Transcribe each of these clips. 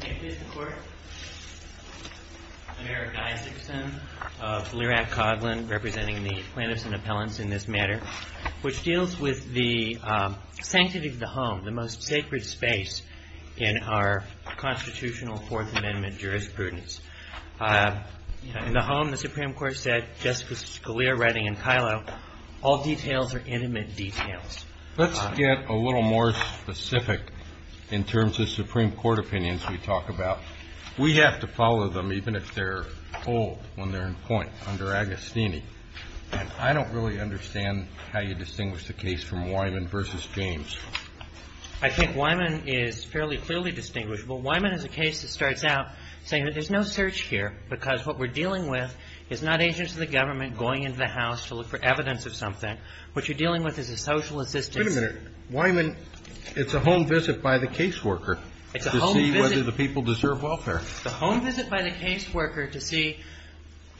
May it please the Court? I'm Eric Isakson of the Lear Act Coghlan, representing the plaintiffs and appellants in this matter, which deals with the sanctity of the home, the most sacred space in our constitutional Fourth Amendment jurisprudence. In the home, the Supreme Court said, just as Scalia, Redding, and Kylow, all details are intimate details. Let's get a little more specific in terms of Supreme Court opinions we talk about. We have to follow them, even if they're old, when they're in point, under Agostini. And I don't really understand how you distinguish the case from Wyman v. James. I think Wyman is fairly clearly distinguishable. Wyman is a case that starts out saying that there's no search here because what we're dealing with is not agents of the government going into the house to look for evidence of something. What you're dealing with is a social assistance. Wait a minute. Wyman, it's a home visit by the caseworker to see whether the people deserve welfare. It's a home visit by the caseworker to see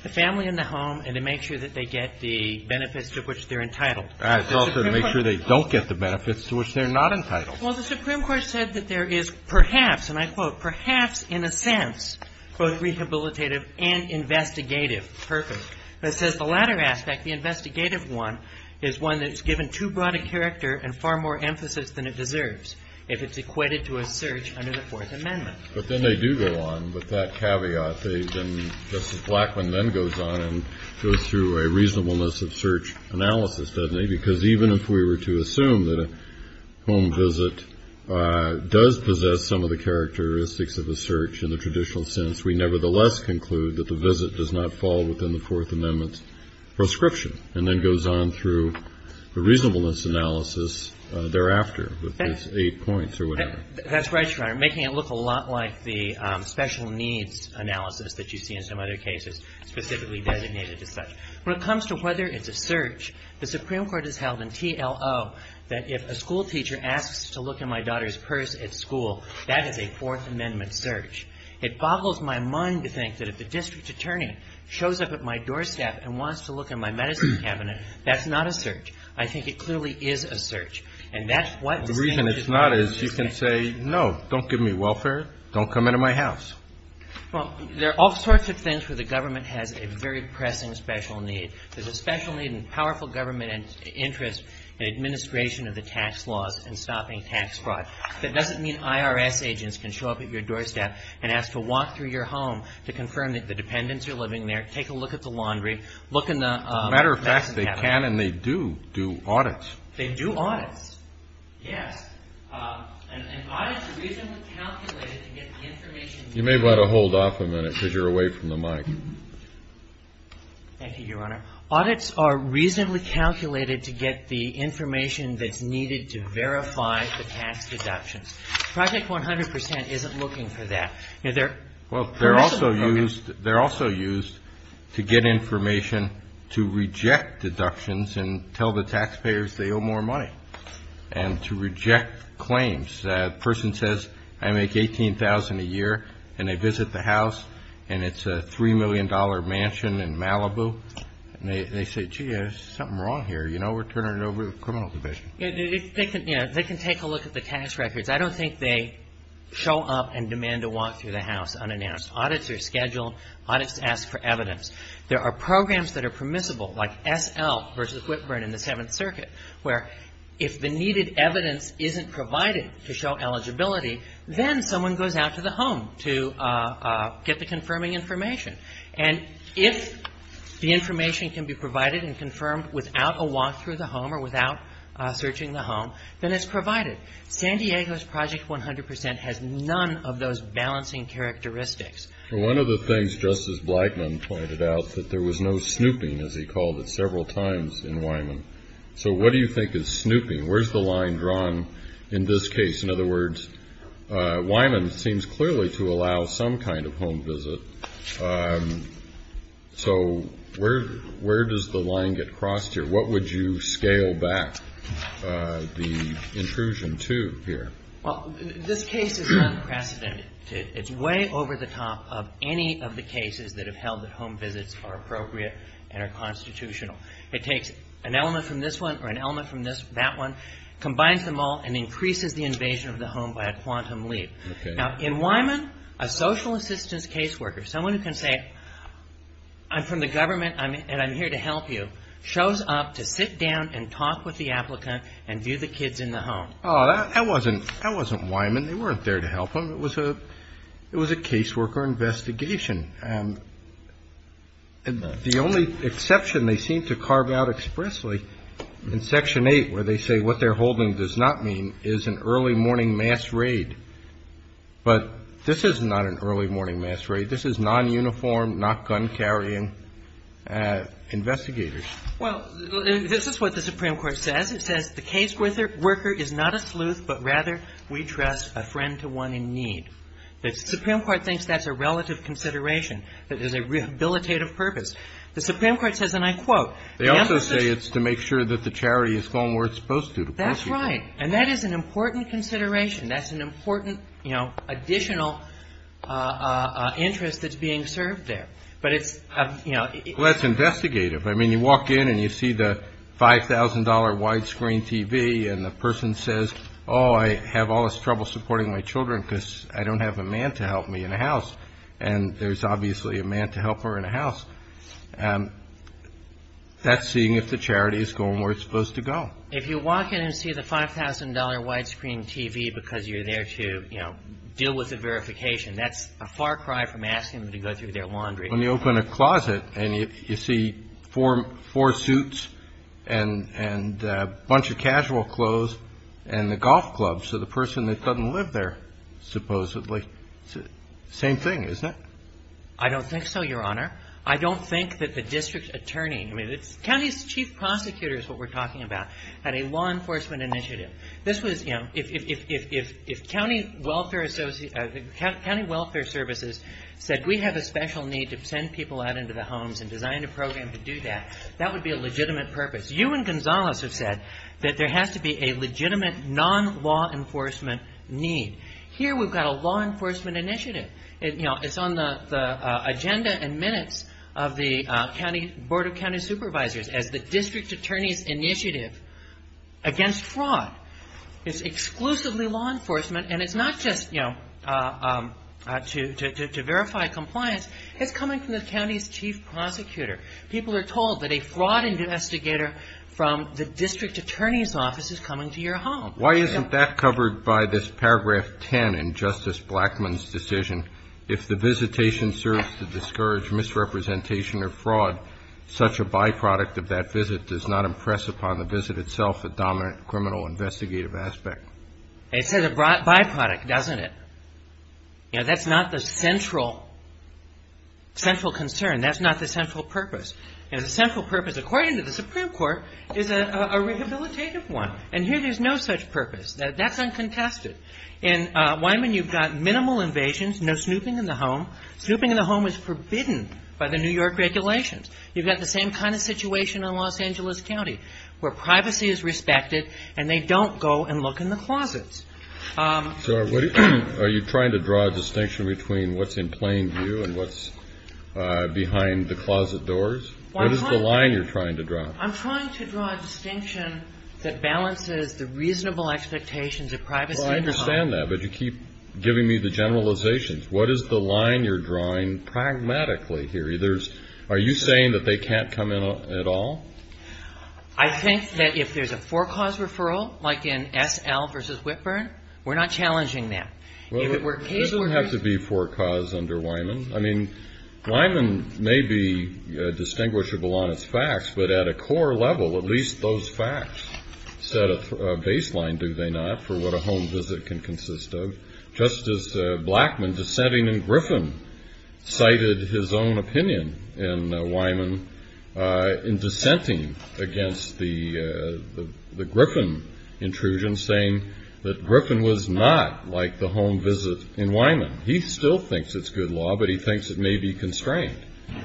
the family in the home and to make sure that they get the benefits to which they're entitled. And also to make sure they don't get the benefits to which they're not entitled. Well, the Supreme Court said that there is perhaps, and I quote, "...perhaps in a sense both rehabilitative and investigative purpose." It says, "...the latter aspect, the investigative one, is one that's given too broad a character and far more emphasis than it deserves if it's equated to a search under the Fourth Amendment." But then they do go on with that caveat. Justice Blackmun then goes on and goes through a reasonableness of search analysis, doesn't he? Because even if we were to assume that a home visit does possess some of the characteristics of a search in the traditional sense, we nevertheless conclude that the visit does not fall within the Fourth Amendment's prescription and then goes on through the reasonableness analysis thereafter with those eight points or whatever. That's right, Your Honor. Making it look a lot like the special needs analysis that you see in some other cases specifically designated as such. When it comes to whether it's a search, the Supreme Court has held in TLO that if a schoolteacher asks to look in my daughter's purse at school, that is a Fourth Amendment search. It boggles my mind to think that if the district attorney shows up at my doorstep and wants to look in my medicine cabinet, that's not a search. I think it clearly is a search. The reason it's not is you can say, no, don't give me welfare, don't come into my house. Well, there are all sorts of things where the government has a very pressing special need. There's a special need in powerful government interest in administration of the tax laws and stopping tax fraud. That doesn't mean IRS agents can show up at your doorstep and ask to walk through your home to confirm that the dependents are living there, take a look at the laundry, look in the medicine cabinet. As a matter of fact, they can and they do do audits. They do audits. Yes. And audits are reasonably calculated to get the information. You may want to hold off a minute because you're away from the mic. Thank you, Your Honor. Audits are reasonably calculated to get the information that's needed to verify the tax deductions. Project 100 percent isn't looking for that. Well, they're also used to get information to reject deductions and tell the taxpayers they owe more money and to reject claims. A person says, I make $18,000 a year, and they visit the house, and it's a $3 million mansion in Malibu, and they say, gee, there's something wrong here, you know, we're turning it over to the criminal division. They can take a look at the tax records. I don't think they show up and demand to walk through the house unannounced. Audits are scheduled. Audits ask for evidence. There are programs that are permissible, like SL versus Whitburn in the Seventh Circuit, where if the needed evidence isn't provided to show eligibility, then someone goes out to the home to get the confirming information. And if the information can be provided and confirmed without a walk through the home or without searching the home, then it's provided. San Diego's Project 100 percent has none of those balancing characteristics. Well, one of the things Justice Blackmun pointed out, that there was no snooping, as he called it several times in Wyman. So what do you think is snooping? Where's the line drawn in this case? In other words, Wyman seems clearly to allow some kind of home visit. So where does the line get crossed here? What would you scale back the intrusion to here? Well, this case is unprecedented. It's way over the top of any of the cases that have held that home visits are appropriate and are constitutional. It takes an element from this one or an element from that one, combines them all, and increases the invasion of the home by a quantum leap. Now, in Wyman, a social assistance caseworker, someone who can say, I'm from the government and I'm here to help you, shows up to sit down and talk with the applicant and view the kids in the home. Oh, that wasn't Wyman. They weren't there to help them. It was a caseworker investigation. And the only exception they seem to carve out expressly in Section 8, where they say what they're holding does not mean, is an early morning mass raid. But this is not an early morning mass raid. This is non-uniform, not gun-carrying investigators. Well, this is what the Supreme Court says. It says the caseworker is not a sleuth, but rather we trust a friend to one in need. The Supreme Court thinks that's a relative consideration. It is a rehabilitative purpose. The Supreme Court says, and I quote. They also say it's to make sure that the charity is going where it's supposed to, to prosecute. That's right. And that is an important consideration. That's an important, you know, additional interest that's being served there. But it's, you know. Well, that's investigative. I mean, you walk in and you see the $5,000 widescreen TV and the person says, oh, I have all this trouble supporting my children because I don't have a man to help me in a house. And there's obviously a man to help her in a house. That's seeing if the charity is going where it's supposed to go. If you walk in and see the $5,000 widescreen TV because you're there to, you know, deal with the verification, that's a far cry from asking them to go through their laundry. When you open a closet and you see four suits and a bunch of casual clothes and the golf clubs of the person that doesn't live there, supposedly, same thing, isn't it? I don't think so, Your Honor. I don't think that the district attorney, I mean, the county's chief prosecutor is what we're talking about, had a law enforcement initiative. This was, you know, if county welfare services said, we have a special need to send people out into the homes and design a program to do that, that would be a legitimate purpose. You and Gonzalez have said that there has to be a legitimate non-law enforcement need. Here we've got a law enforcement initiative. You know, it's on the agenda and minutes of the board of county supervisors as the district attorney's initiative against fraud. It's exclusively law enforcement, and it's not just, you know, to verify compliance. It's coming from the county's chief prosecutor. People are told that a fraud investigator from the district attorney's office is coming to your home. Why isn't that covered by this paragraph 10 in Justice Blackmun's decision? If the visitation serves to discourage misrepresentation or fraud, such a byproduct of that visit does not impress upon the visit itself a dominant criminal investigative aspect. It's a byproduct, doesn't it? You know, that's not the central concern. That's not the central purpose. You know, the central purpose, according to the Supreme Court, is a rehabilitative one. And here there's no such purpose. That's uncontested. In Wyman, you've got minimal invasions, no snooping in the home. Snooping in the home is forbidden by the New York regulations. You've got the same kind of situation in Los Angeles County where privacy is respected and they don't go and look in the closets. So are you trying to draw a distinction between what's in plain view and what's behind the closet doors? What is the line you're trying to draw? I'm trying to draw a distinction that balances the reasonable expectations of privacy. Well, I understand that, but you keep giving me the generalizations. What is the line you're drawing pragmatically here? Are you saying that they can't come in at all? I think that if there's a for-cause referral, like in S.L. v. Whitburn, we're not challenging that. There doesn't have to be for-cause under Wyman. I mean, Wyman may be distinguishable on its facts, but at a core level, at least those facts set a baseline, do they not, for what a home visit can consist of. Justice Blackmun, dissenting in Griffin, cited his own opinion in Wyman in dissenting against the Griffin intrusion, saying that Griffin was not like the home visit in Wyman. He still thinks it's good law, but he thinks it may be constrained.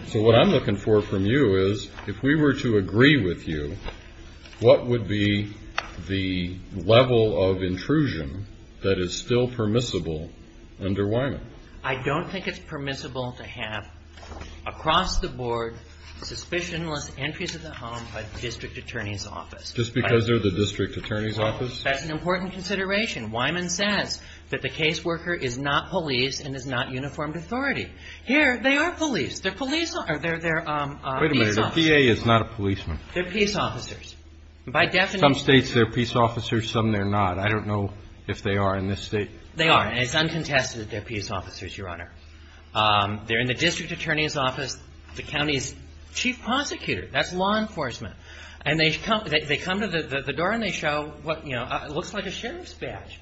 So what I'm looking for from you is, if we were to agree with you, what would be the level of intrusion that is still permissible under Wyman? I don't think it's permissible to have, across the board, suspicionless entries of the home by the district attorney's office. Just because they're the district attorney's office? That's an important consideration. Wyman says that the caseworker is not police and is not uniformed authority. Here, they are police. They're police officers. They're peace officers. Wait a minute. A PA is not a policeman. They're peace officers. By definition. Some States, they're peace officers. Some, they're not. I don't know if they are in this State. They are. And it's uncontested that they're peace officers, Your Honor. They're in the district attorney's office. The county's chief prosecutor. That's law enforcement. And they come to the door and they show what, you know, looks like a sheriff's badge,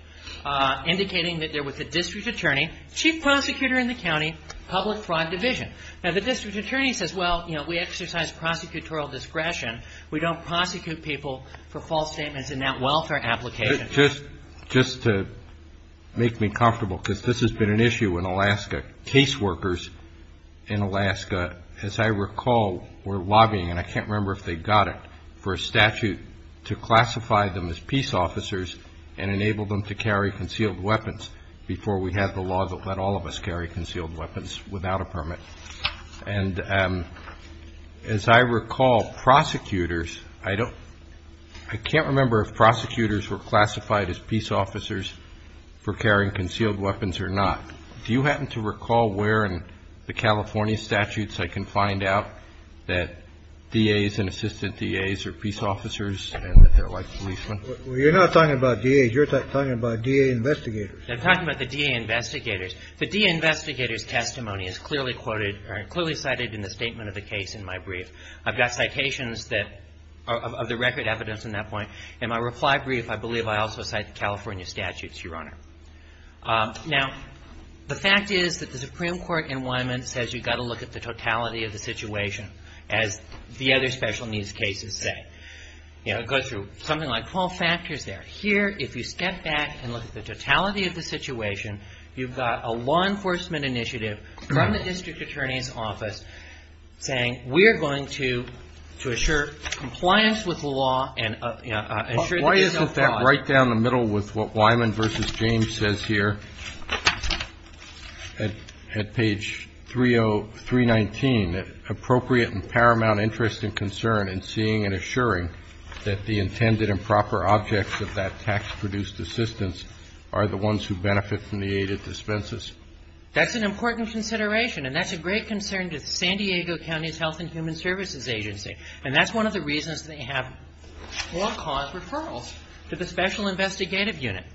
indicating that they're with the district attorney, chief prosecutor in the county, public fraud division. Now, the district attorney says, well, you know, we exercise prosecutorial discretion. We don't prosecute people for false statements in that welfare application. Just to make me comfortable, because this has been an issue in Alaska. Caseworkers in Alaska, as I recall, were lobbying, and I can't remember if they got it, for a statute to classify them as peace officers and enable them to carry concealed weapons, before we had the law that let all of us carry concealed weapons without a permit. And as I recall, prosecutors, I don't, I can't remember if prosecutors were classified as peace officers for carrying concealed weapons or not. Do you happen to recall where in the California statutes I can find out that DAs and assistant DAs are peace officers and that they're like policemen? Well, you're not talking about DAs. You're talking about DA investigators. I'm talking about the DA investigators. The DA investigators' testimony is clearly quoted or clearly cited in the statement of the case in my brief. I've got citations that, of the record evidence in that point. In my reply brief, I believe I also cite the California statutes, Your Honor. Now, the fact is that the Supreme Court in Wyman says you've got to look at the totality of the situation, as the other special needs cases say. It goes through something like 12 factors there. Here, if you step back and look at the totality of the situation, you've got a law enforcement initiative from the district attorney's office saying, we're going to assure compliance with the law and assure that there's no fraud. Put that right down the middle with what Wyman v. James says here at page 319, appropriate and paramount interest and concern in seeing and assuring that the intended and proper objects of that tax-produced assistance are the ones who benefit from the aid and dispenses. That's an important consideration, and that's a great concern to the San Diego County's Health and Human Services Agency, and that's one of the reasons they have all-cause referrals to the special investigative unit.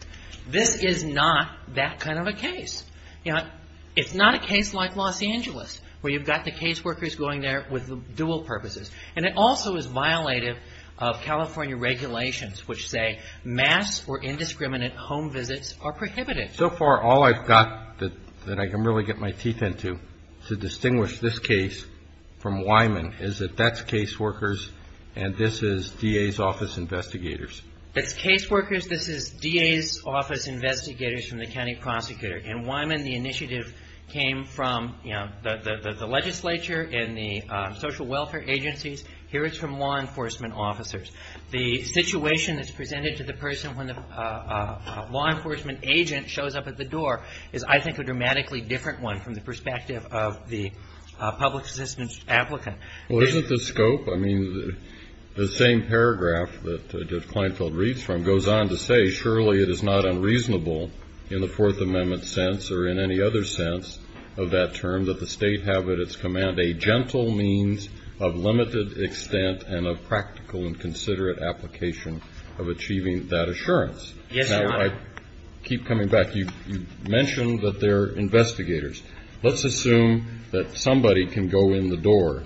This is not that kind of a case. You know, it's not a case like Los Angeles, where you've got the caseworkers going there with dual purposes, and it also is violative of California regulations which say mass or indiscriminate home visits are prohibited. So far, all I've got that I can really get my teeth into to distinguish this case from Wyman is that that's caseworkers and this is DA's office investigators. It's caseworkers. This is DA's office investigators from the county prosecutor. In Wyman, the initiative came from the legislature and the social welfare agencies. Here it's from law enforcement officers. The situation that's presented to the person when the law enforcement agent shows up at the door is, I think, a dramatically different one from the perspective of the public assistance applicant. Well, isn't the scope? I mean, the same paragraph that Judge Kleinfeld reads from goes on to say, surely it is not unreasonable in the Fourth Amendment sense or in any other sense of that term that the State have at its command a gentle means of limited extent and a practical and considerate application of achieving that assurance. Yes, Your Honor. Now, I keep coming back. You mentioned that they're investigators. Let's assume that somebody can go in the door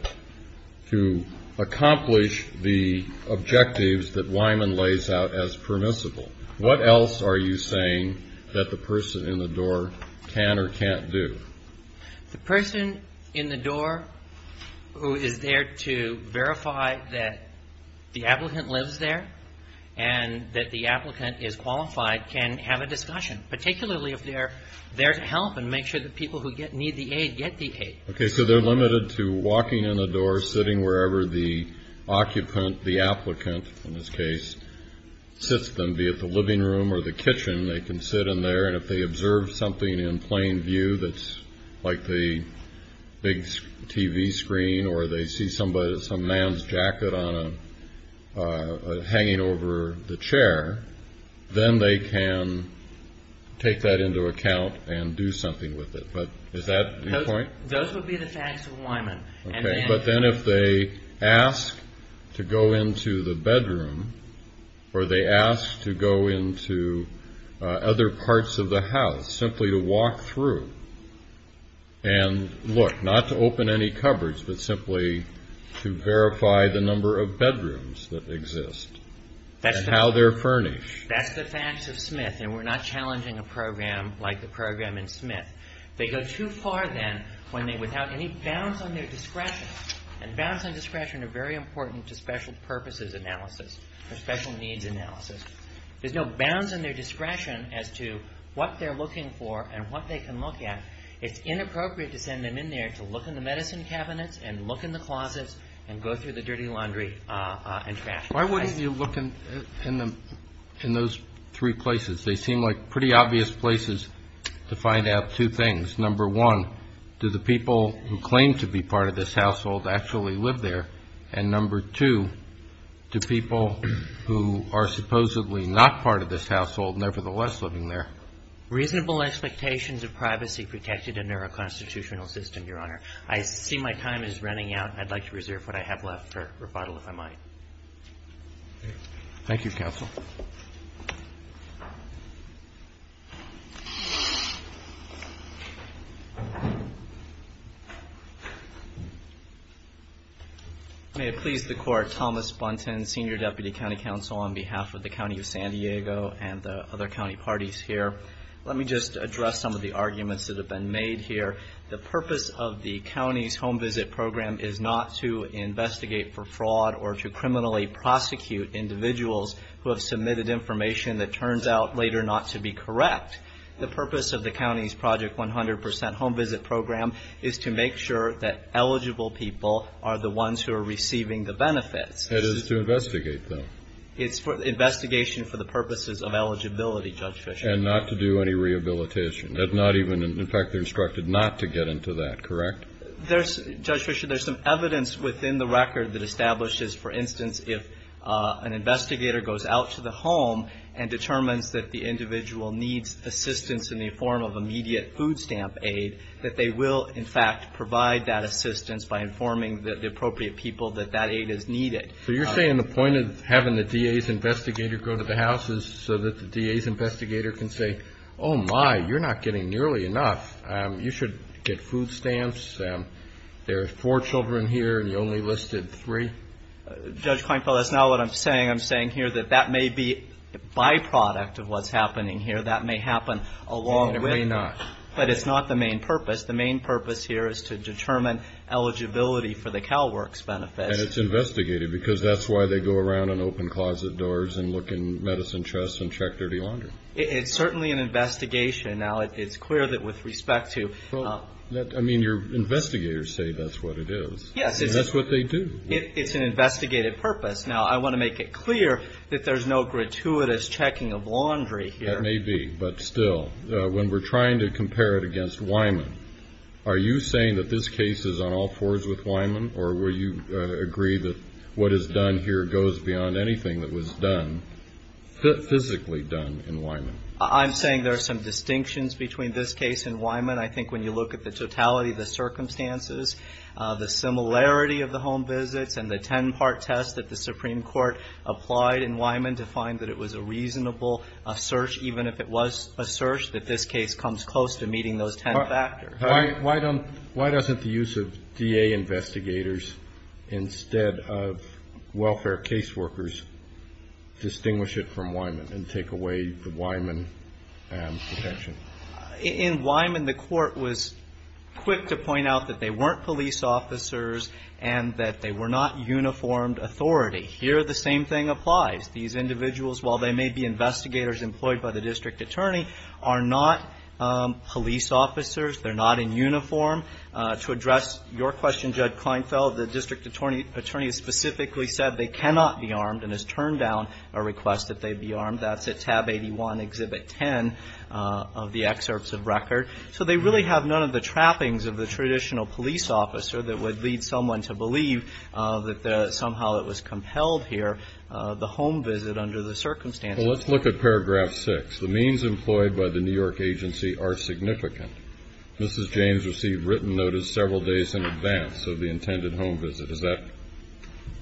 to accomplish the objectives that Wyman lays out as permissible. What else are you saying that the person in the door can or can't do? The person in the door who is there to verify that the applicant lives there and that the applicant is qualified can have a discussion, particularly if they're there to help and make sure that people who need the aid get the aid. Okay. So they're limited to walking in the door, sitting wherever the occupant, the applicant in this case, sits them, be it the living room or the kitchen. They can sit in there. And if they observe something in plain view that's like the big TV screen or they see some man's jacket hanging over the chair, then they can take that into account and do something with it. But is that your point? Those would be the facts of Wyman. Okay. But then if they ask to go into the bedroom or they ask to go into other parts of the house, simply to walk through and look, not to open any cupboards, but simply to verify the number of bedrooms that exist and how they're furnished. That's the facts of Smith. And we're not challenging a program like the program in Smith. They go too far then without any bounds on their discretion. And bounds on discretion are very important to special purposes analysis or special needs analysis. There's no bounds on their discretion as to what they're looking for and what they can look at. It's inappropriate to send them in there to look in the medicine cabinets and look in the closets and go through the dirty laundry and trash. Why wouldn't you look in those three places? They seem like pretty obvious places to find out two things. Number one, do the people who claim to be part of this household actually live there? And number two, do people who are supposedly not part of this household nevertheless live in there? Reasonable expectations of privacy protected under a constitutional system, Your Honor. I see my time is running out. I'd like to reserve what I have left for rebuttal if I might. Thank you, counsel. May it please the Court, Thomas Buntin, Senior Deputy County Counsel on behalf of the County of San Diego and the other county parties here. Let me just address some of the arguments that have been made here. The purpose of the county's home visit program is not to investigate for fraud or to criminally prosecute individuals who have submitted information that turns out later not to be correct. The purpose of the county's Project 100% home visit program is to make sure that eligible people are the ones who are receiving the benefits. It is to investigate, though. It's investigation for the purposes of eligibility, Judge Fischer. And not to do any rehabilitation. In fact, they're instructed not to get into that, correct? Judge Fischer, there's some evidence within the record that establishes, for instance, if an investigator goes out to the home and determines that the individual needs assistance in the form of immediate food stamp aid, that they will, in fact, provide that assistance by informing the appropriate people that that aid is needed. So you're saying the point of having the DA's investigator go to the house is so that the DA's investigator can say, oh, my, you're not getting nearly enough. You should get food stamps. There are four children here, and you only listed three? Judge Kleinfeld, that's not what I'm saying. I'm saying here that that may be a byproduct of what's happening here. That may happen along the way. It may not. But it's not the main purpose. The main purpose here is to determine eligibility for the CalWORKs benefits. And it's investigated because that's why they go around on open closet doors and look in medicine chests and check dirty laundry. It's certainly an investigation. Now, it's clear that with respect to the law. I mean, your investigators say that's what it is. Yes. And that's what they do. It's an investigated purpose. Now, I want to make it clear that there's no gratuitous checking of laundry here. It may be, but still, when we're trying to compare it against Wyman, are you saying that this case is on all fours with Wyman, or will you agree that what is done here goes beyond anything that was done, physically done, in Wyman? I'm saying there are some distinctions between this case and Wyman. I think when you look at the totality of the circumstances, the similarity of the home visits and the ten-part test that the Supreme Court applied in Wyman to find that it was a reasonable search, even if it was a search, that this case comes close to meeting those ten factors. Why doesn't the use of DA investigators instead of welfare case workers distinguish it from Wyman and take away the Wyman protection? In Wyman, the Court was quick to point out that they weren't police officers and that they were not uniformed authority. Here, the same thing applies. These individuals, while they may be investigators employed by the district attorney, are not police officers. They're not in uniform. To address your question, Judge Kleinfeld, the district attorney has specifically said they cannot be armed and has turned down a request that they be armed. That's at tab 81, exhibit 10 of the excerpts of record. So they really have none of the trappings of the traditional police officer that would lead someone to believe that somehow it was compelled here, the home visit under the circumstances. Well, let's look at paragraph 6. The means employed by the New York agency are significant. Mrs. James received written notice several days in advance of the intended home visit. Does that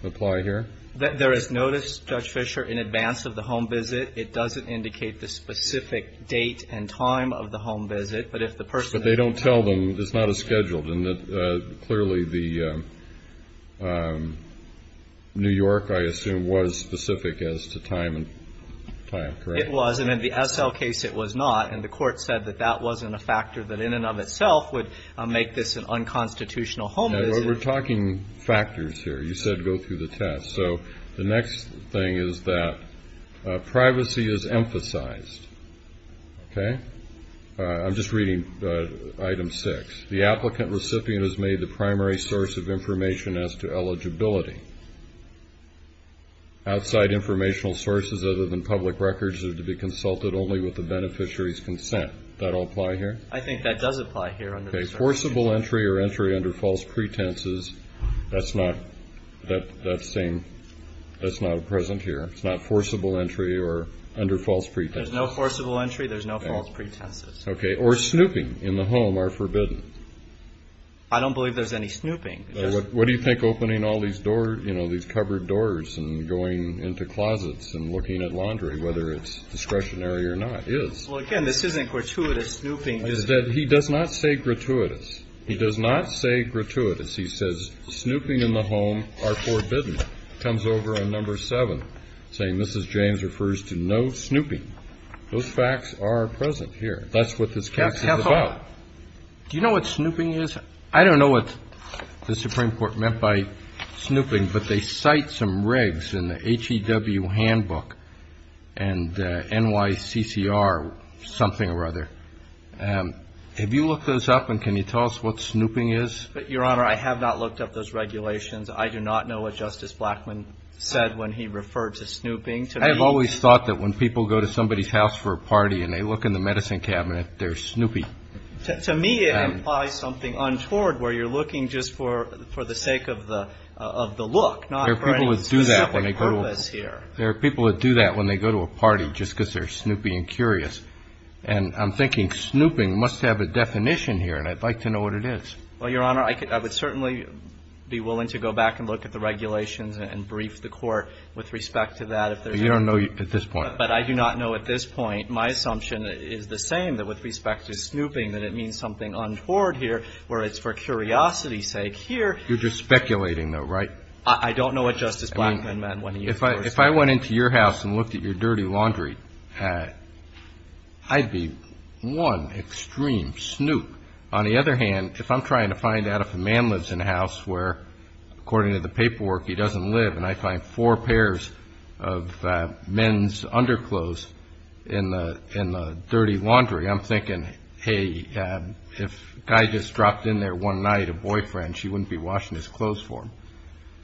apply here? There is notice, Judge Fischer, in advance of the home visit. It doesn't indicate the specific date and time of the home visit, but if the person But they don't tell them. It's not as scheduled. And clearly the New York, I assume, was specific as to time and time, correct? It was. And in the Essel case, it was not. And the Court said that that wasn't a factor that in and of itself would make this an unconstitutional home visit. We're talking factors here. You said go through the test. So the next thing is that privacy is emphasized. Okay? I'm just reading item 6. The applicant recipient has made the primary source of information as to eligibility. Outside informational sources other than public records are to be consulted only with the beneficiary's consent. Does that all apply here? I think that does apply here under the circumstances. Okay. Forcible entry or entry under false pretenses, that's not present here. It's not forcible entry or under false pretenses. There's no forcible entry. There's no false pretenses. Okay. Or snooping in the home are forbidden. I don't believe there's any snooping. What do you think opening all these doors, you know, these covered doors and going into closets and looking at laundry, whether it's discretionary or not, is? Well, again, this isn't gratuitous snooping. He does not say gratuitous. He does not say gratuitous. He says snooping in the home are forbidden. Justice Kennedy comes over on Number 7 saying Mrs. James refers to no snooping. Those facts are present here. That's what this case is about. Counsel, do you know what snooping is? I don't know what the Supreme Court meant by snooping, but they cite some regs in the HEW handbook and NYCCR something or other. Have you looked those up, and can you tell us what snooping is? Your Honor, I have not looked up those regulations. I do not know what Justice Blackmun said when he referred to snooping. I have always thought that when people go to somebody's house for a party and they look in the medicine cabinet, they're snoopy. To me, it implies something untoward where you're looking just for the sake of the look, not for any specific purpose here. There are people that do that when they go to a party just because they're snoopy and curious. And I'm thinking snooping must have a definition here, and I'd like to know what it is. Well, Your Honor, I would certainly be willing to go back and look at the regulations and brief the Court with respect to that. But you don't know at this point. But I do not know at this point. My assumption is the same, that with respect to snooping, that it means something untoward here where it's for curiosity's sake here. You're just speculating, though, right? I don't know what Justice Blackmun meant when he referred to snooping. If I went into your house and looked at your dirty laundry, I'd be one extreme snoop. On the other hand, if I'm trying to find out if a man lives in a house where, according to the paperwork, he doesn't live, and I find four pairs of men's underclothes in the dirty laundry, I'm thinking, hey, if a guy just dropped in there one night a boyfriend, she wouldn't be washing his clothes for him.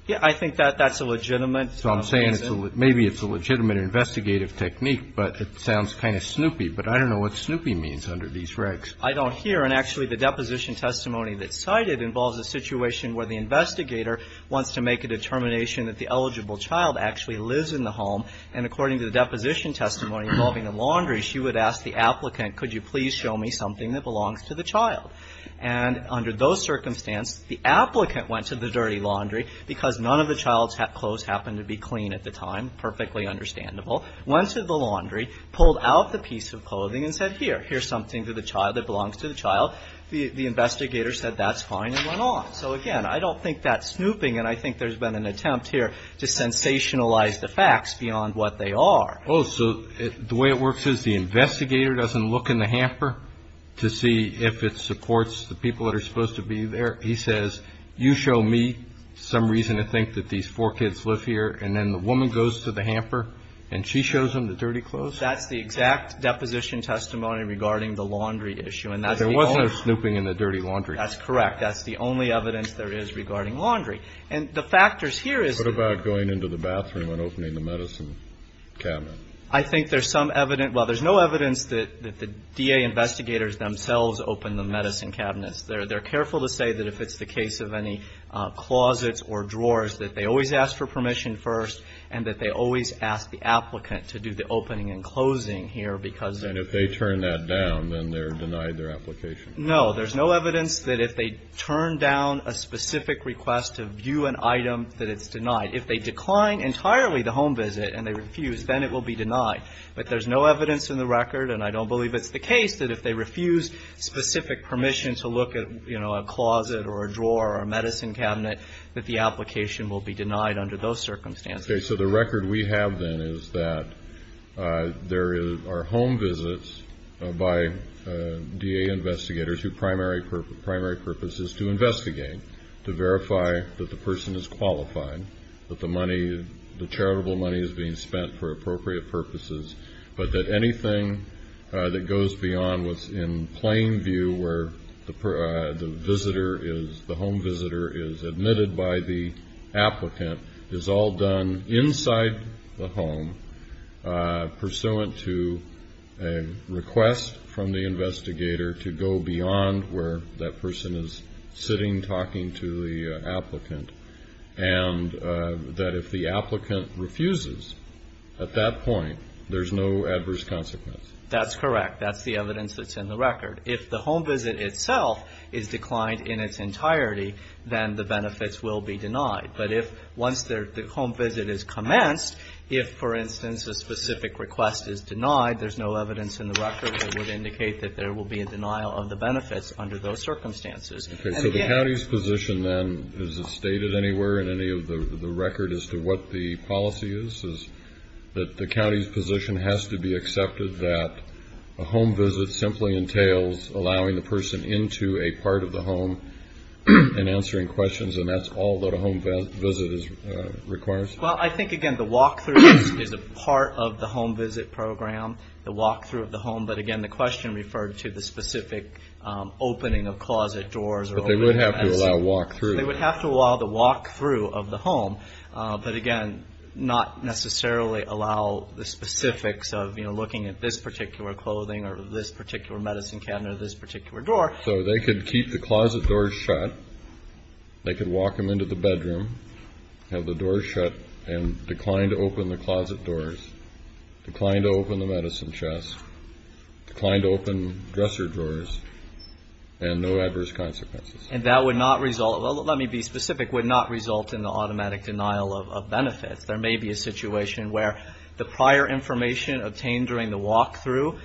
Yeah, I think that that's a legitimate reason. So I'm saying maybe it's a legitimate investigative technique, but it sounds kind of snoopy. But I don't know what snoopy means under these regs. I don't hear. And actually, the deposition testimony that's cited involves a situation where the investigator wants to make a determination that the eligible child actually lives in the home. And according to the deposition testimony involving the laundry, she would ask the applicant, could you please show me something that belongs to the child? And under those circumstances, the applicant went to the dirty laundry, because none of the child's clothes happened to be clean at the time, perfectly understandable, went to the laundry, pulled out the piece of clothing and said, here, here's something that belongs to the child. The investigator said, that's fine, and went on. So, again, I don't think that's snooping. And I think there's been an attempt here to sensationalize the facts beyond what they are. Oh, so the way it works is the investigator doesn't look in the hamper to see if it supports the people that are supposed to be there. He says, you show me some reason to think that these four kids live here. And then the woman goes to the hamper, and she shows him the dirty clothes? That's the exact deposition testimony regarding the laundry issue. And that's the only one. But there wasn't a snooping in the dirty laundry. That's correct. That's the only evidence there is regarding laundry. And the factors here is the ---- What about going into the bathroom and opening the medicine cabinet? I think there's some evidence. Well, there's no evidence that the DA investigators themselves opened the medicine cabinets. They're careful to say that if it's the case of any closets or drawers, that they always ask for permission first, and that they always ask the applicant to do the opening and closing here because they're ---- And if they turn that down, then they're denied their application? No. There's no evidence that if they turn down a specific request to view an item, that it's denied. If they decline entirely the home visit and they refuse, then it will be denied. But there's no evidence in the record, and I don't believe it's the case, that if they refuse specific permission to look at, you know, a closet or a drawer or a medicine cabinet, that the application will be denied under those circumstances. Okay. So the record we have, then, is that there are home visits by DA investigators whose primary purpose is to investigate, to verify that the person is qualified, that the money, the charitable money is being spent for appropriate purposes, but that anything that goes beyond what's in plain view, where the home visitor is admitted by the applicant, is all done inside the home, pursuant to a request from the investigator to go beyond where that person is sitting, talking to the applicant, and that if the applicant refuses at that point, there's no adverse consequence. That's correct. That's the evidence that's in the record. If the home visit itself is declined in its entirety, then the benefits will be denied. But if once the home visit is commenced, if, for instance, a specific request is denied, there's no evidence in the record that would indicate that there will be a denial of the benefits under those circumstances. Okay. So the county's position, then, is it stated anywhere in any of the record as to what the policy is, is that the county's position has to be accepted that a home visit simply entails allowing the person into a part of the home and answering questions, and that's all that a home visit requires? Well, I think, again, the walk-through is a part of the home visit program, the walk-through of the home. But, again, the question referred to the specific opening of closet doors. But they would have to allow a walk-through. They would have to allow the walk-through of the home. But, again, not necessarily allow the specifics of, you know, looking at this particular clothing or this particular medicine cabinet or this particular door. So they could keep the closet doors shut. They could walk them into the bedroom, have the doors shut, and decline to open the closet doors, decline to open the medicine chest, decline to open dresser drawers, and no adverse consequences. And that would not result, well, let me be specific, would not result in the automatic denial of benefits. There may be a situation where the prior information obtained during the walk-through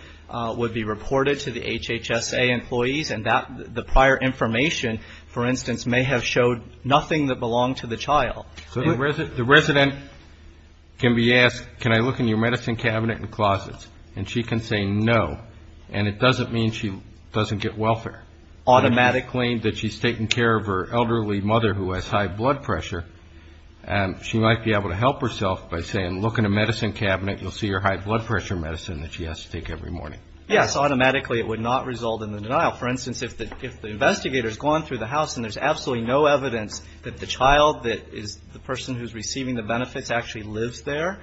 would be reported to the HHSA employees, and the prior information, for instance, may have showed nothing that belonged to the child. The resident can be asked, can I look in your medicine cabinet and closets? And she can say no. And it doesn't mean she doesn't get welfare. Automatically. If she's taking care of her elderly mother who has high blood pressure, she might be able to help herself by saying, look in the medicine cabinet, you'll see your high blood pressure medicine that she has to take every morning. Yes, automatically it would not result in the denial. For instance, if the investigator has gone through the house and there's absolutely no evidence that the child, that the person who's receiving the benefits actually lives there,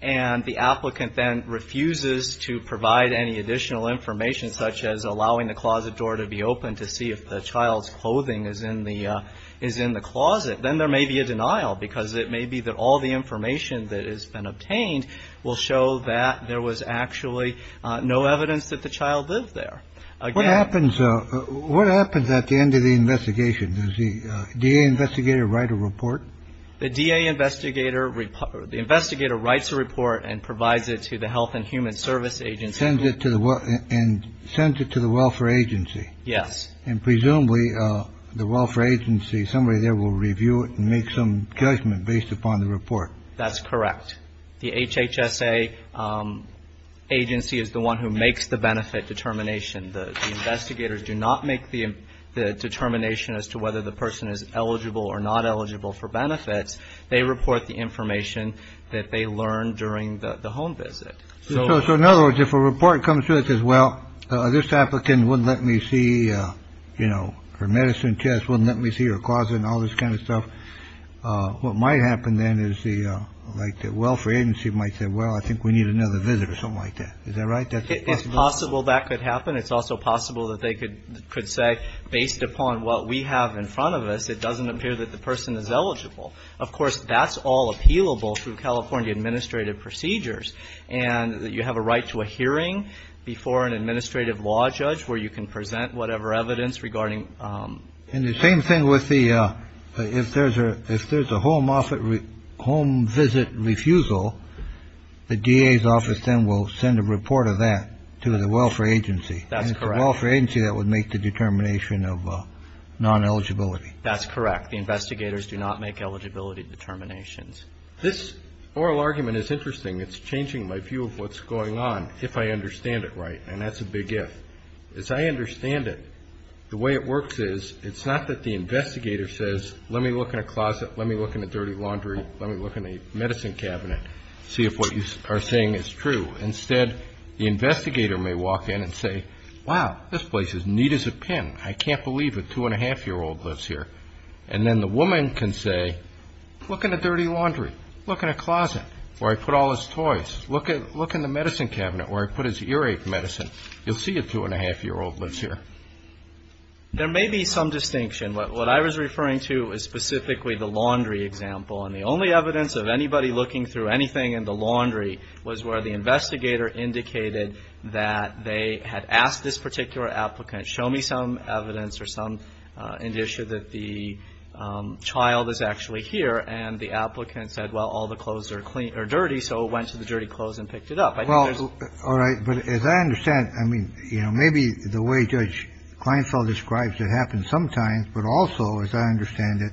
and the applicant then refuses to provide any additional information, such as allowing the closet door to be open to see if the child's clothing is in the closet, then there may be a denial because it may be that all the information that has been obtained will show that there was actually no evidence that the child lived there. What happens at the end of the investigation? Does the DA investigator write a report? The DA investigator writes a report and provides it to the Health and Human Service Agency. And sends it to the welfare agency. Yes. And presumably the welfare agency, somebody there will review it and make some judgment based upon the report. That's correct. The HHSA agency is the one who makes the benefit determination. The investigators do not make the determination as to whether the person is eligible or not eligible for benefits. They report the information that they learned during the home visit. So in other words, if a report comes to us as well, this applicant wouldn't let me see, you know, her medicine chest wouldn't let me see her closet and all this kind of stuff. What might happen then is the like the welfare agency might say, well, I think we need another visit or something like that. Is that right? That's possible. That could happen. It's also possible that they could could say, based upon what we have in front of us, it doesn't appear that the person is eligible. Of course, that's all appealable through California administrative procedures. And you have a right to a hearing before an administrative law judge where you can present whatever evidence regarding. And the same thing with the if there's a if there's a home office home visit refusal, the DA's office then will send a report of that to the welfare agency. That's correct. Welfare agency that would make the determination of non-eligibility. That's correct. The investigators do not make eligibility determinations. This oral argument is interesting. It's changing my view of what's going on if I understand it right. And that's a big if. As I understand it, the way it works is it's not that the investigator says, let me look in a closet, let me look in a dirty laundry, let me look in a medicine cabinet, see if what you are saying is true. Instead, the investigator may walk in and say, wow, this place is neat as a pin. I can't believe a two and a half year old lives here. And then the woman can say, look in a dirty laundry, look in a closet where I put all his toys. Look at look in the medicine cabinet where I put his earache medicine. You'll see a two and a half year old lives here. There may be some distinction. What I was referring to is specifically the laundry example. And the only evidence of anybody looking through anything in the laundry was where the investigator indicated that they had asked this particular applicant, show me some evidence or some indicia that the child is actually here. And the applicant said, well, all the clothes are clean or dirty. So it went to the dirty clothes and picked it up. Well, all right. But as I understand, I mean, you know, maybe the way Judge Kleinfeld describes it happens sometimes. But also, as I understand it,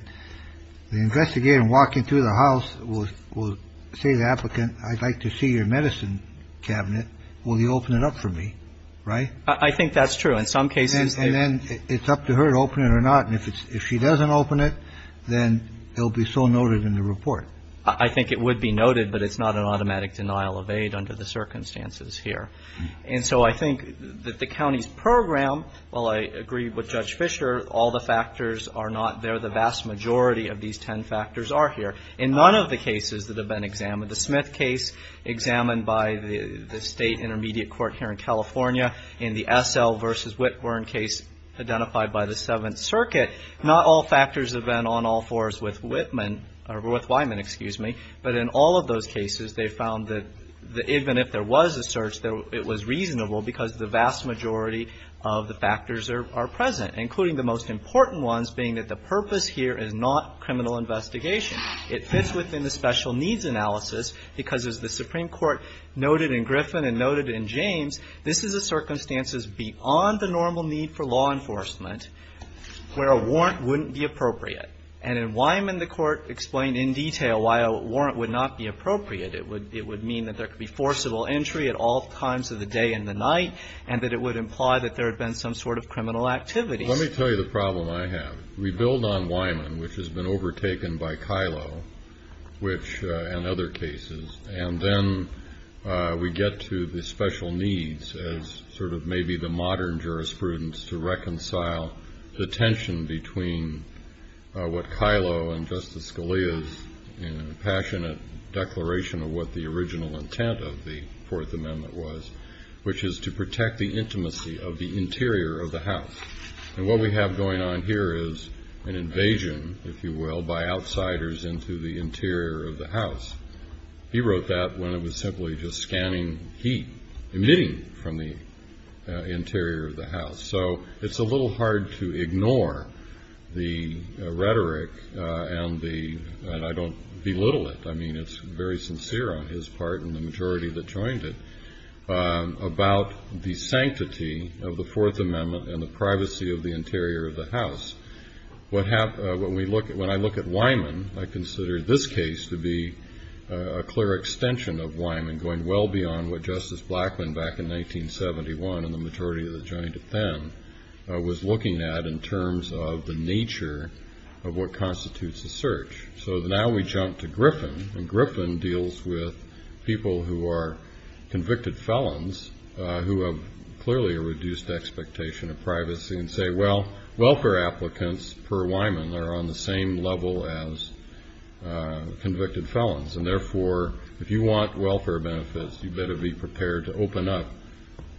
the investigator walking through the house will say the applicant, I'd like to see your medicine cabinet. Will you open it up for me? Right? I think that's true in some cases. And then it's up to her to open it or not. And if she doesn't open it, then it will be so noted in the report. I think it would be noted, but it's not an automatic denial of aid under the circumstances here. And so I think that the county's program, while I agree with Judge Fisher, all the factors are not there. The vast majority of these ten factors are here. In none of the cases that have been examined, the Smith case examined by the state intermediate court here in California, in the Essel versus Whitburn case identified by the Seventh Circuit, not all factors have been on all fours with Whitman or with Wyman, excuse me. But in all of those cases, they found that even if there was a search, it was reasonable because the vast majority of the factors are present, including the most important ones being that the purpose here is not criminal investigation. It fits within the special needs analysis because, as the Supreme Court noted in Griffin and noted in James, this is a circumstances beyond the normal need for law enforcement where a warrant wouldn't be appropriate. And in Wyman, the Court explained in detail why a warrant would not be appropriate. It would mean that there could be forcible entry at all times of the day and the night and that it would imply that there had been some sort of criminal activity. Let me tell you the problem I have. We build on Wyman, which has been overtaken by Kyllo and other cases, and then we get to the special needs as sort of maybe the modern jurisprudence to reconcile the tension between what Kyllo and Justice Scalia's passionate declaration of what the original intent of the Fourth Amendment was, which is to protect the intimacy of the interior of the house. And what we have going on here is an invasion, if you will, by outsiders into the interior of the house. He wrote that when it was simply just scanning heat emitting from the interior of the house. So it's a little hard to ignore the rhetoric, and I don't belittle it. I mean, it's very sincere on his part and the majority that joined it. About the sanctity of the Fourth Amendment and the privacy of the interior of the house, when I look at Wyman, I consider this case to be a clear extension of Wyman, going well beyond what Justice Blackmun back in 1971 and the majority that joined it then, was looking at in terms of the nature of what constitutes a search. So now we jump to Griffin, and Griffin deals with people who are convicted felons who have clearly a reduced expectation of privacy and say, well, welfare applicants per Wyman are on the same level as convicted felons, and therefore if you want welfare benefits, you better be prepared to open up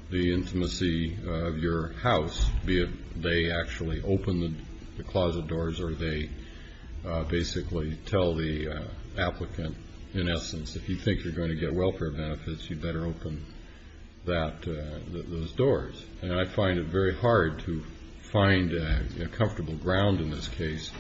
the intimacy of your house, be it they actually open the closet doors or they basically tell the applicant, in essence, if you think you're going to get welfare benefits, you better open those doors. And I find it very hard to find comfortable ground in this case,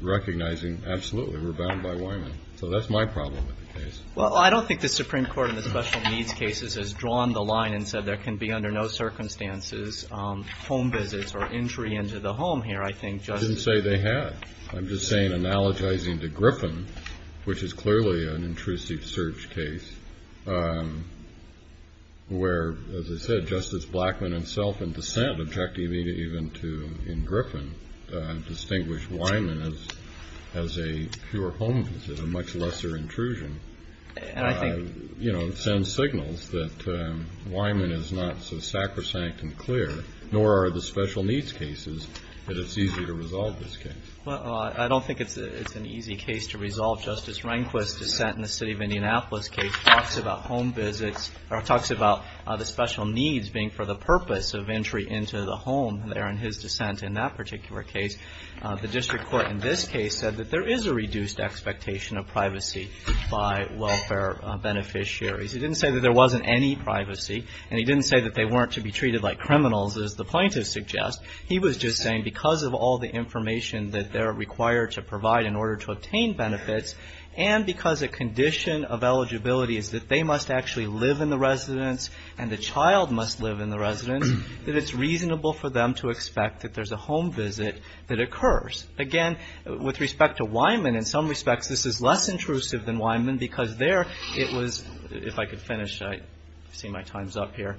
recognizing absolutely, we're bound by Wyman. So that's my problem with the case. Well, I don't think the Supreme Court in the special needs cases has drawn the line and said there can be under no circumstances home visits or entry into the home here. I didn't say they had. I'm just saying, analogizing to Griffin, which is clearly an intrusive search case, where, as I said, Justice Blackmun himself in dissent objected even to, in Griffin, distinguished Wyman as a pure home visit, a much lesser intrusion. It sends signals that Wyman is not so sacrosanct and clear, nor are the special needs cases that it's easy to resolve this case. Well, I don't think it's an easy case to resolve. Justice Rehnquist's dissent in the city of Indianapolis case talks about home visits or talks about the special needs being for the purpose of entry into the home there in his dissent in that particular case. The district court in this case said that there is a reduced expectation of privacy by welfare beneficiaries. He didn't say that there wasn't any privacy, and he didn't say that they weren't to be treated like criminals as the plaintiffs suggest. He was just saying because of all the information that they're required to provide in order to obtain benefits and because a condition of eligibility is that they must actually live in the residence and the child must live in the residence, that it's reasonable for them to expect that there's a home visit that occurs. Again, with respect to Wyman, in some respects, this is less intrusive than Wyman because there it was, if I could finish, I see my time's up here.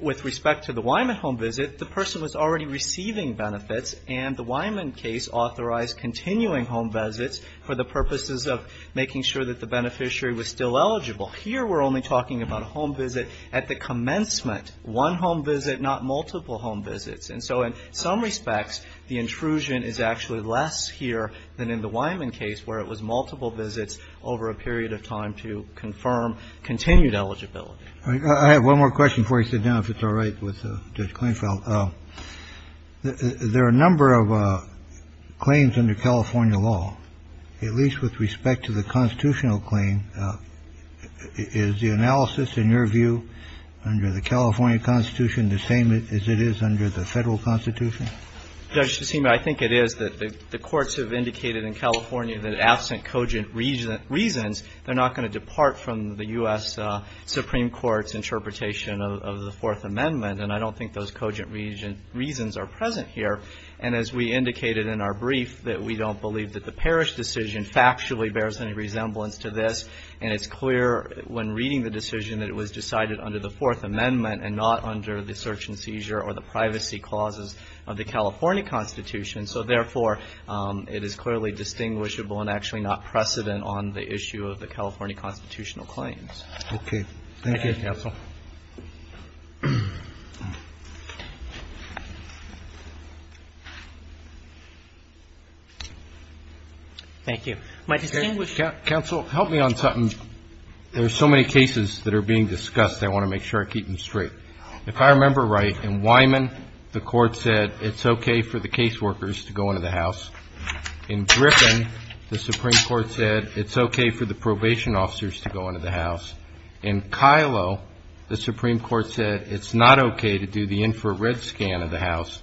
With respect to the Wyman home visit, the person was already receiving benefits and the Wyman case authorized continuing home visits for the purposes of making sure that the beneficiary was still eligible. Here we're only talking about a home visit at the commencement. One home visit, not multiple home visits. And so in some respects, the intrusion is actually less here than in the Wyman case where it was multiple visits over a period of time to confirm continued eligibility. Kennedy. I have one more question before I sit down, if it's all right, with Judge Kleinfeld. There are a number of claims under California law, at least with respect to the constitutional claim. Is the analysis, in your view, under the California Constitution the same as it is under the Federal Constitution? Judge, I think it is. The courts have indicated in California that absent cogent reasons, they're not going to depart from the U.S. Supreme Court's interpretation of the Fourth Amendment. And I don't think those cogent reasons are present here. And as we indicated in our brief, that we don't believe that the Parrish decision factually bears any resemblance to this. And it's clear when reading the decision that it was decided under the Fourth Amendment and not under the search and seizure or the privacy clauses of the California Constitution. So, therefore, it is clearly distinguishable and actually not precedent on the issue of the Okay. Thank you, counsel. Thank you. Counsel, help me on something. There are so many cases that are being discussed. I want to make sure I keep them straight. If I remember right, in Wyman, the Court said it's okay for the caseworkers to go into the house. In Griffin, the Supreme Court said it's okay for the probation officers to go into the house. The Supreme Court said it's not okay to do the infrared scan of the house.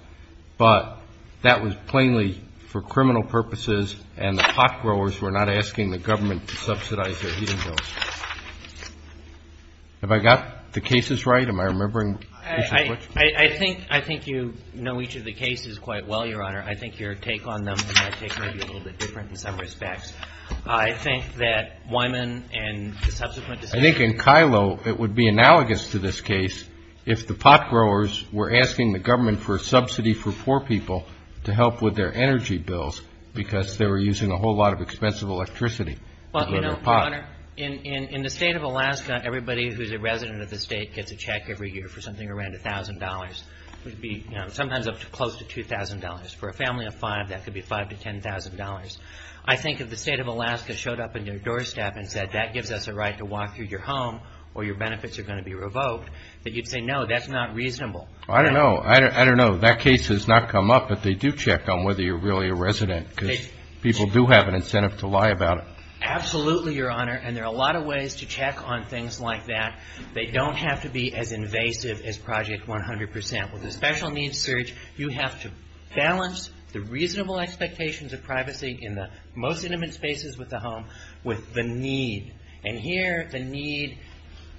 But that was plainly for criminal purposes, and the pot growers were not asking the government to subsidize their heating bills. Have I got the cases right? Am I remembering? I think you know each of the cases quite well, Your Honor. I think your take on them might be a little bit different in some respects. I think that Wyman and the subsequent decisions I think in Kylo, it would be analogous to this case if the pot growers were asking the government for a subsidy for poor people to help with their energy bills because they were using a whole lot of expensive electricity to grow their pot. Well, you know, Your Honor, in the State of Alaska, everybody who is a resident of the State gets a check every year for something around $1,000. It would be sometimes up to close to $2,000. For a family of five, that could be $5,000 to $10,000. I think if the State of Alaska showed up at your doorstep and said that gives us a right to walk through your home or your benefits are going to be revoked, that you'd say no, that's not reasonable. I don't know. I don't know. That case has not come up, but they do check on whether you're really a resident because people do have an incentive to lie about it. Absolutely, Your Honor. And there are a lot of ways to check on things like that. They don't have to be as invasive as Project 100%. With a special needs surge, you have to balance the reasonable expectations of privacy in the most intimate spaces with the home with the need. And here, the need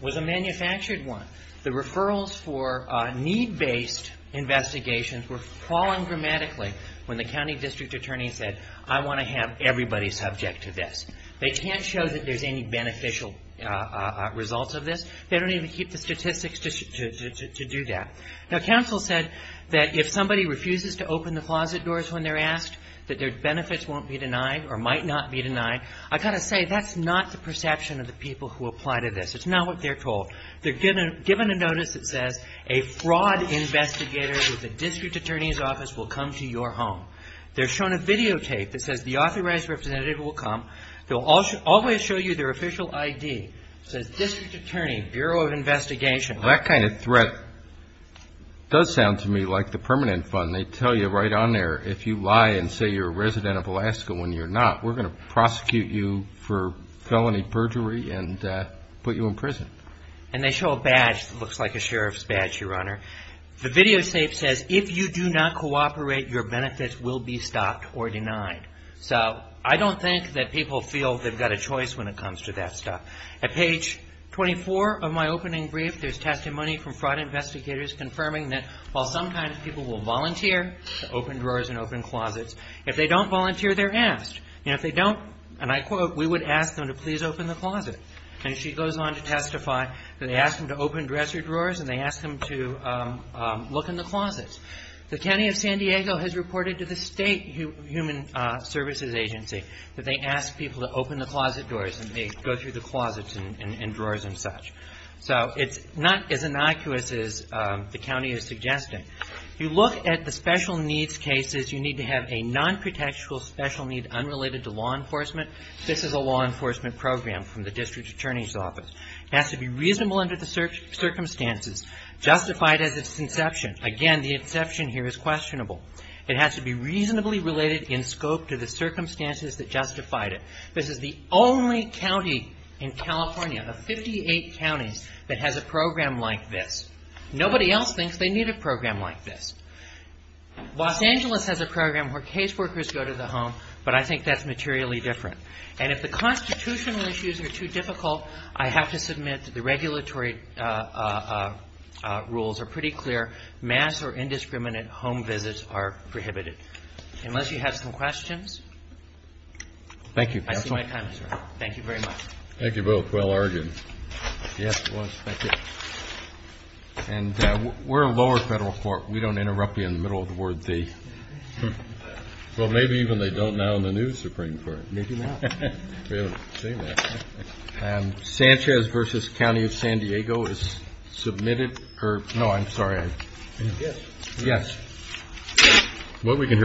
was a manufactured one. The referrals for need-based investigations were falling dramatically when the county district attorney said, I want to have everybody subject to this. They can't show that there's any beneficial results of this. They don't even keep the statistics to do that. Now, counsel said that if somebody refuses to open the closet doors when they're asked, that their benefits won't be denied or might not be denied. I've got to say, that's not the perception of the people who apply to this. It's not what they're told. They're given a notice that says a fraud investigator with the district attorney's office will come to your home. They're shown a videotape that says the authorized representative will come. They'll always show you their official ID. It says district attorney, Bureau of Investigation. Well, that kind of threat does sound to me like the permanent fund. They tell you right on there, if you lie and say you're a resident of Alaska when you're not, we're going to prosecute you for felony perjury and put you in prison. And they show a badge that looks like a sheriff's badge, Your Honor. The videotape says, if you do not cooperate, your benefits will be stopped or denied. So I don't think that people feel they've got a choice when it comes to that stuff. At page 24 of my opening brief, there's testimony from fraud investigators confirming that, while some kind of people will volunteer to open drawers and open closets, if they don't volunteer, they're asked. And if they don't, and I quote, we would ask them to please open the closet. And she goes on to testify that they ask them to open dresser drawers and they ask them to look in the closets. The county of San Diego has reported to the state human services agency that they ask people to open the closet doors and they go through the closets and drawers and such. So it's not as innocuous as the county is suggesting. You look at the special needs cases. You need to have a nonprotectual special need unrelated to law enforcement. This is a law enforcement program from the district attorney's office. It has to be reasonable under the circumstances, justified as its inception. Again, the inception here is questionable. It has to be reasonably related in scope to the circumstances that justified it. This is the only county in California, of 58 counties, that has a program like this. Nobody else thinks they need a program like this. Los Angeles has a program where caseworkers go to the home, but I think that's materially different. And if the constitutional issues are too difficult, I have to submit that the regulatory rules are pretty clear. Mass or indiscriminate home visits are prohibited. Unless you have some questions. Thank you, counsel. I see my time is up. Thank you very much. Thank you both. Well argued. Yes, it was. Thank you. And we're a lower federal court. We don't interrupt you in the middle of the word they. Well, maybe even they don't now in the new Supreme Court. Maybe not. We haven't seen that. Sanchez versus County of San Diego is submitted. No, I'm sorry. Yes. Yes. Well, we can hear.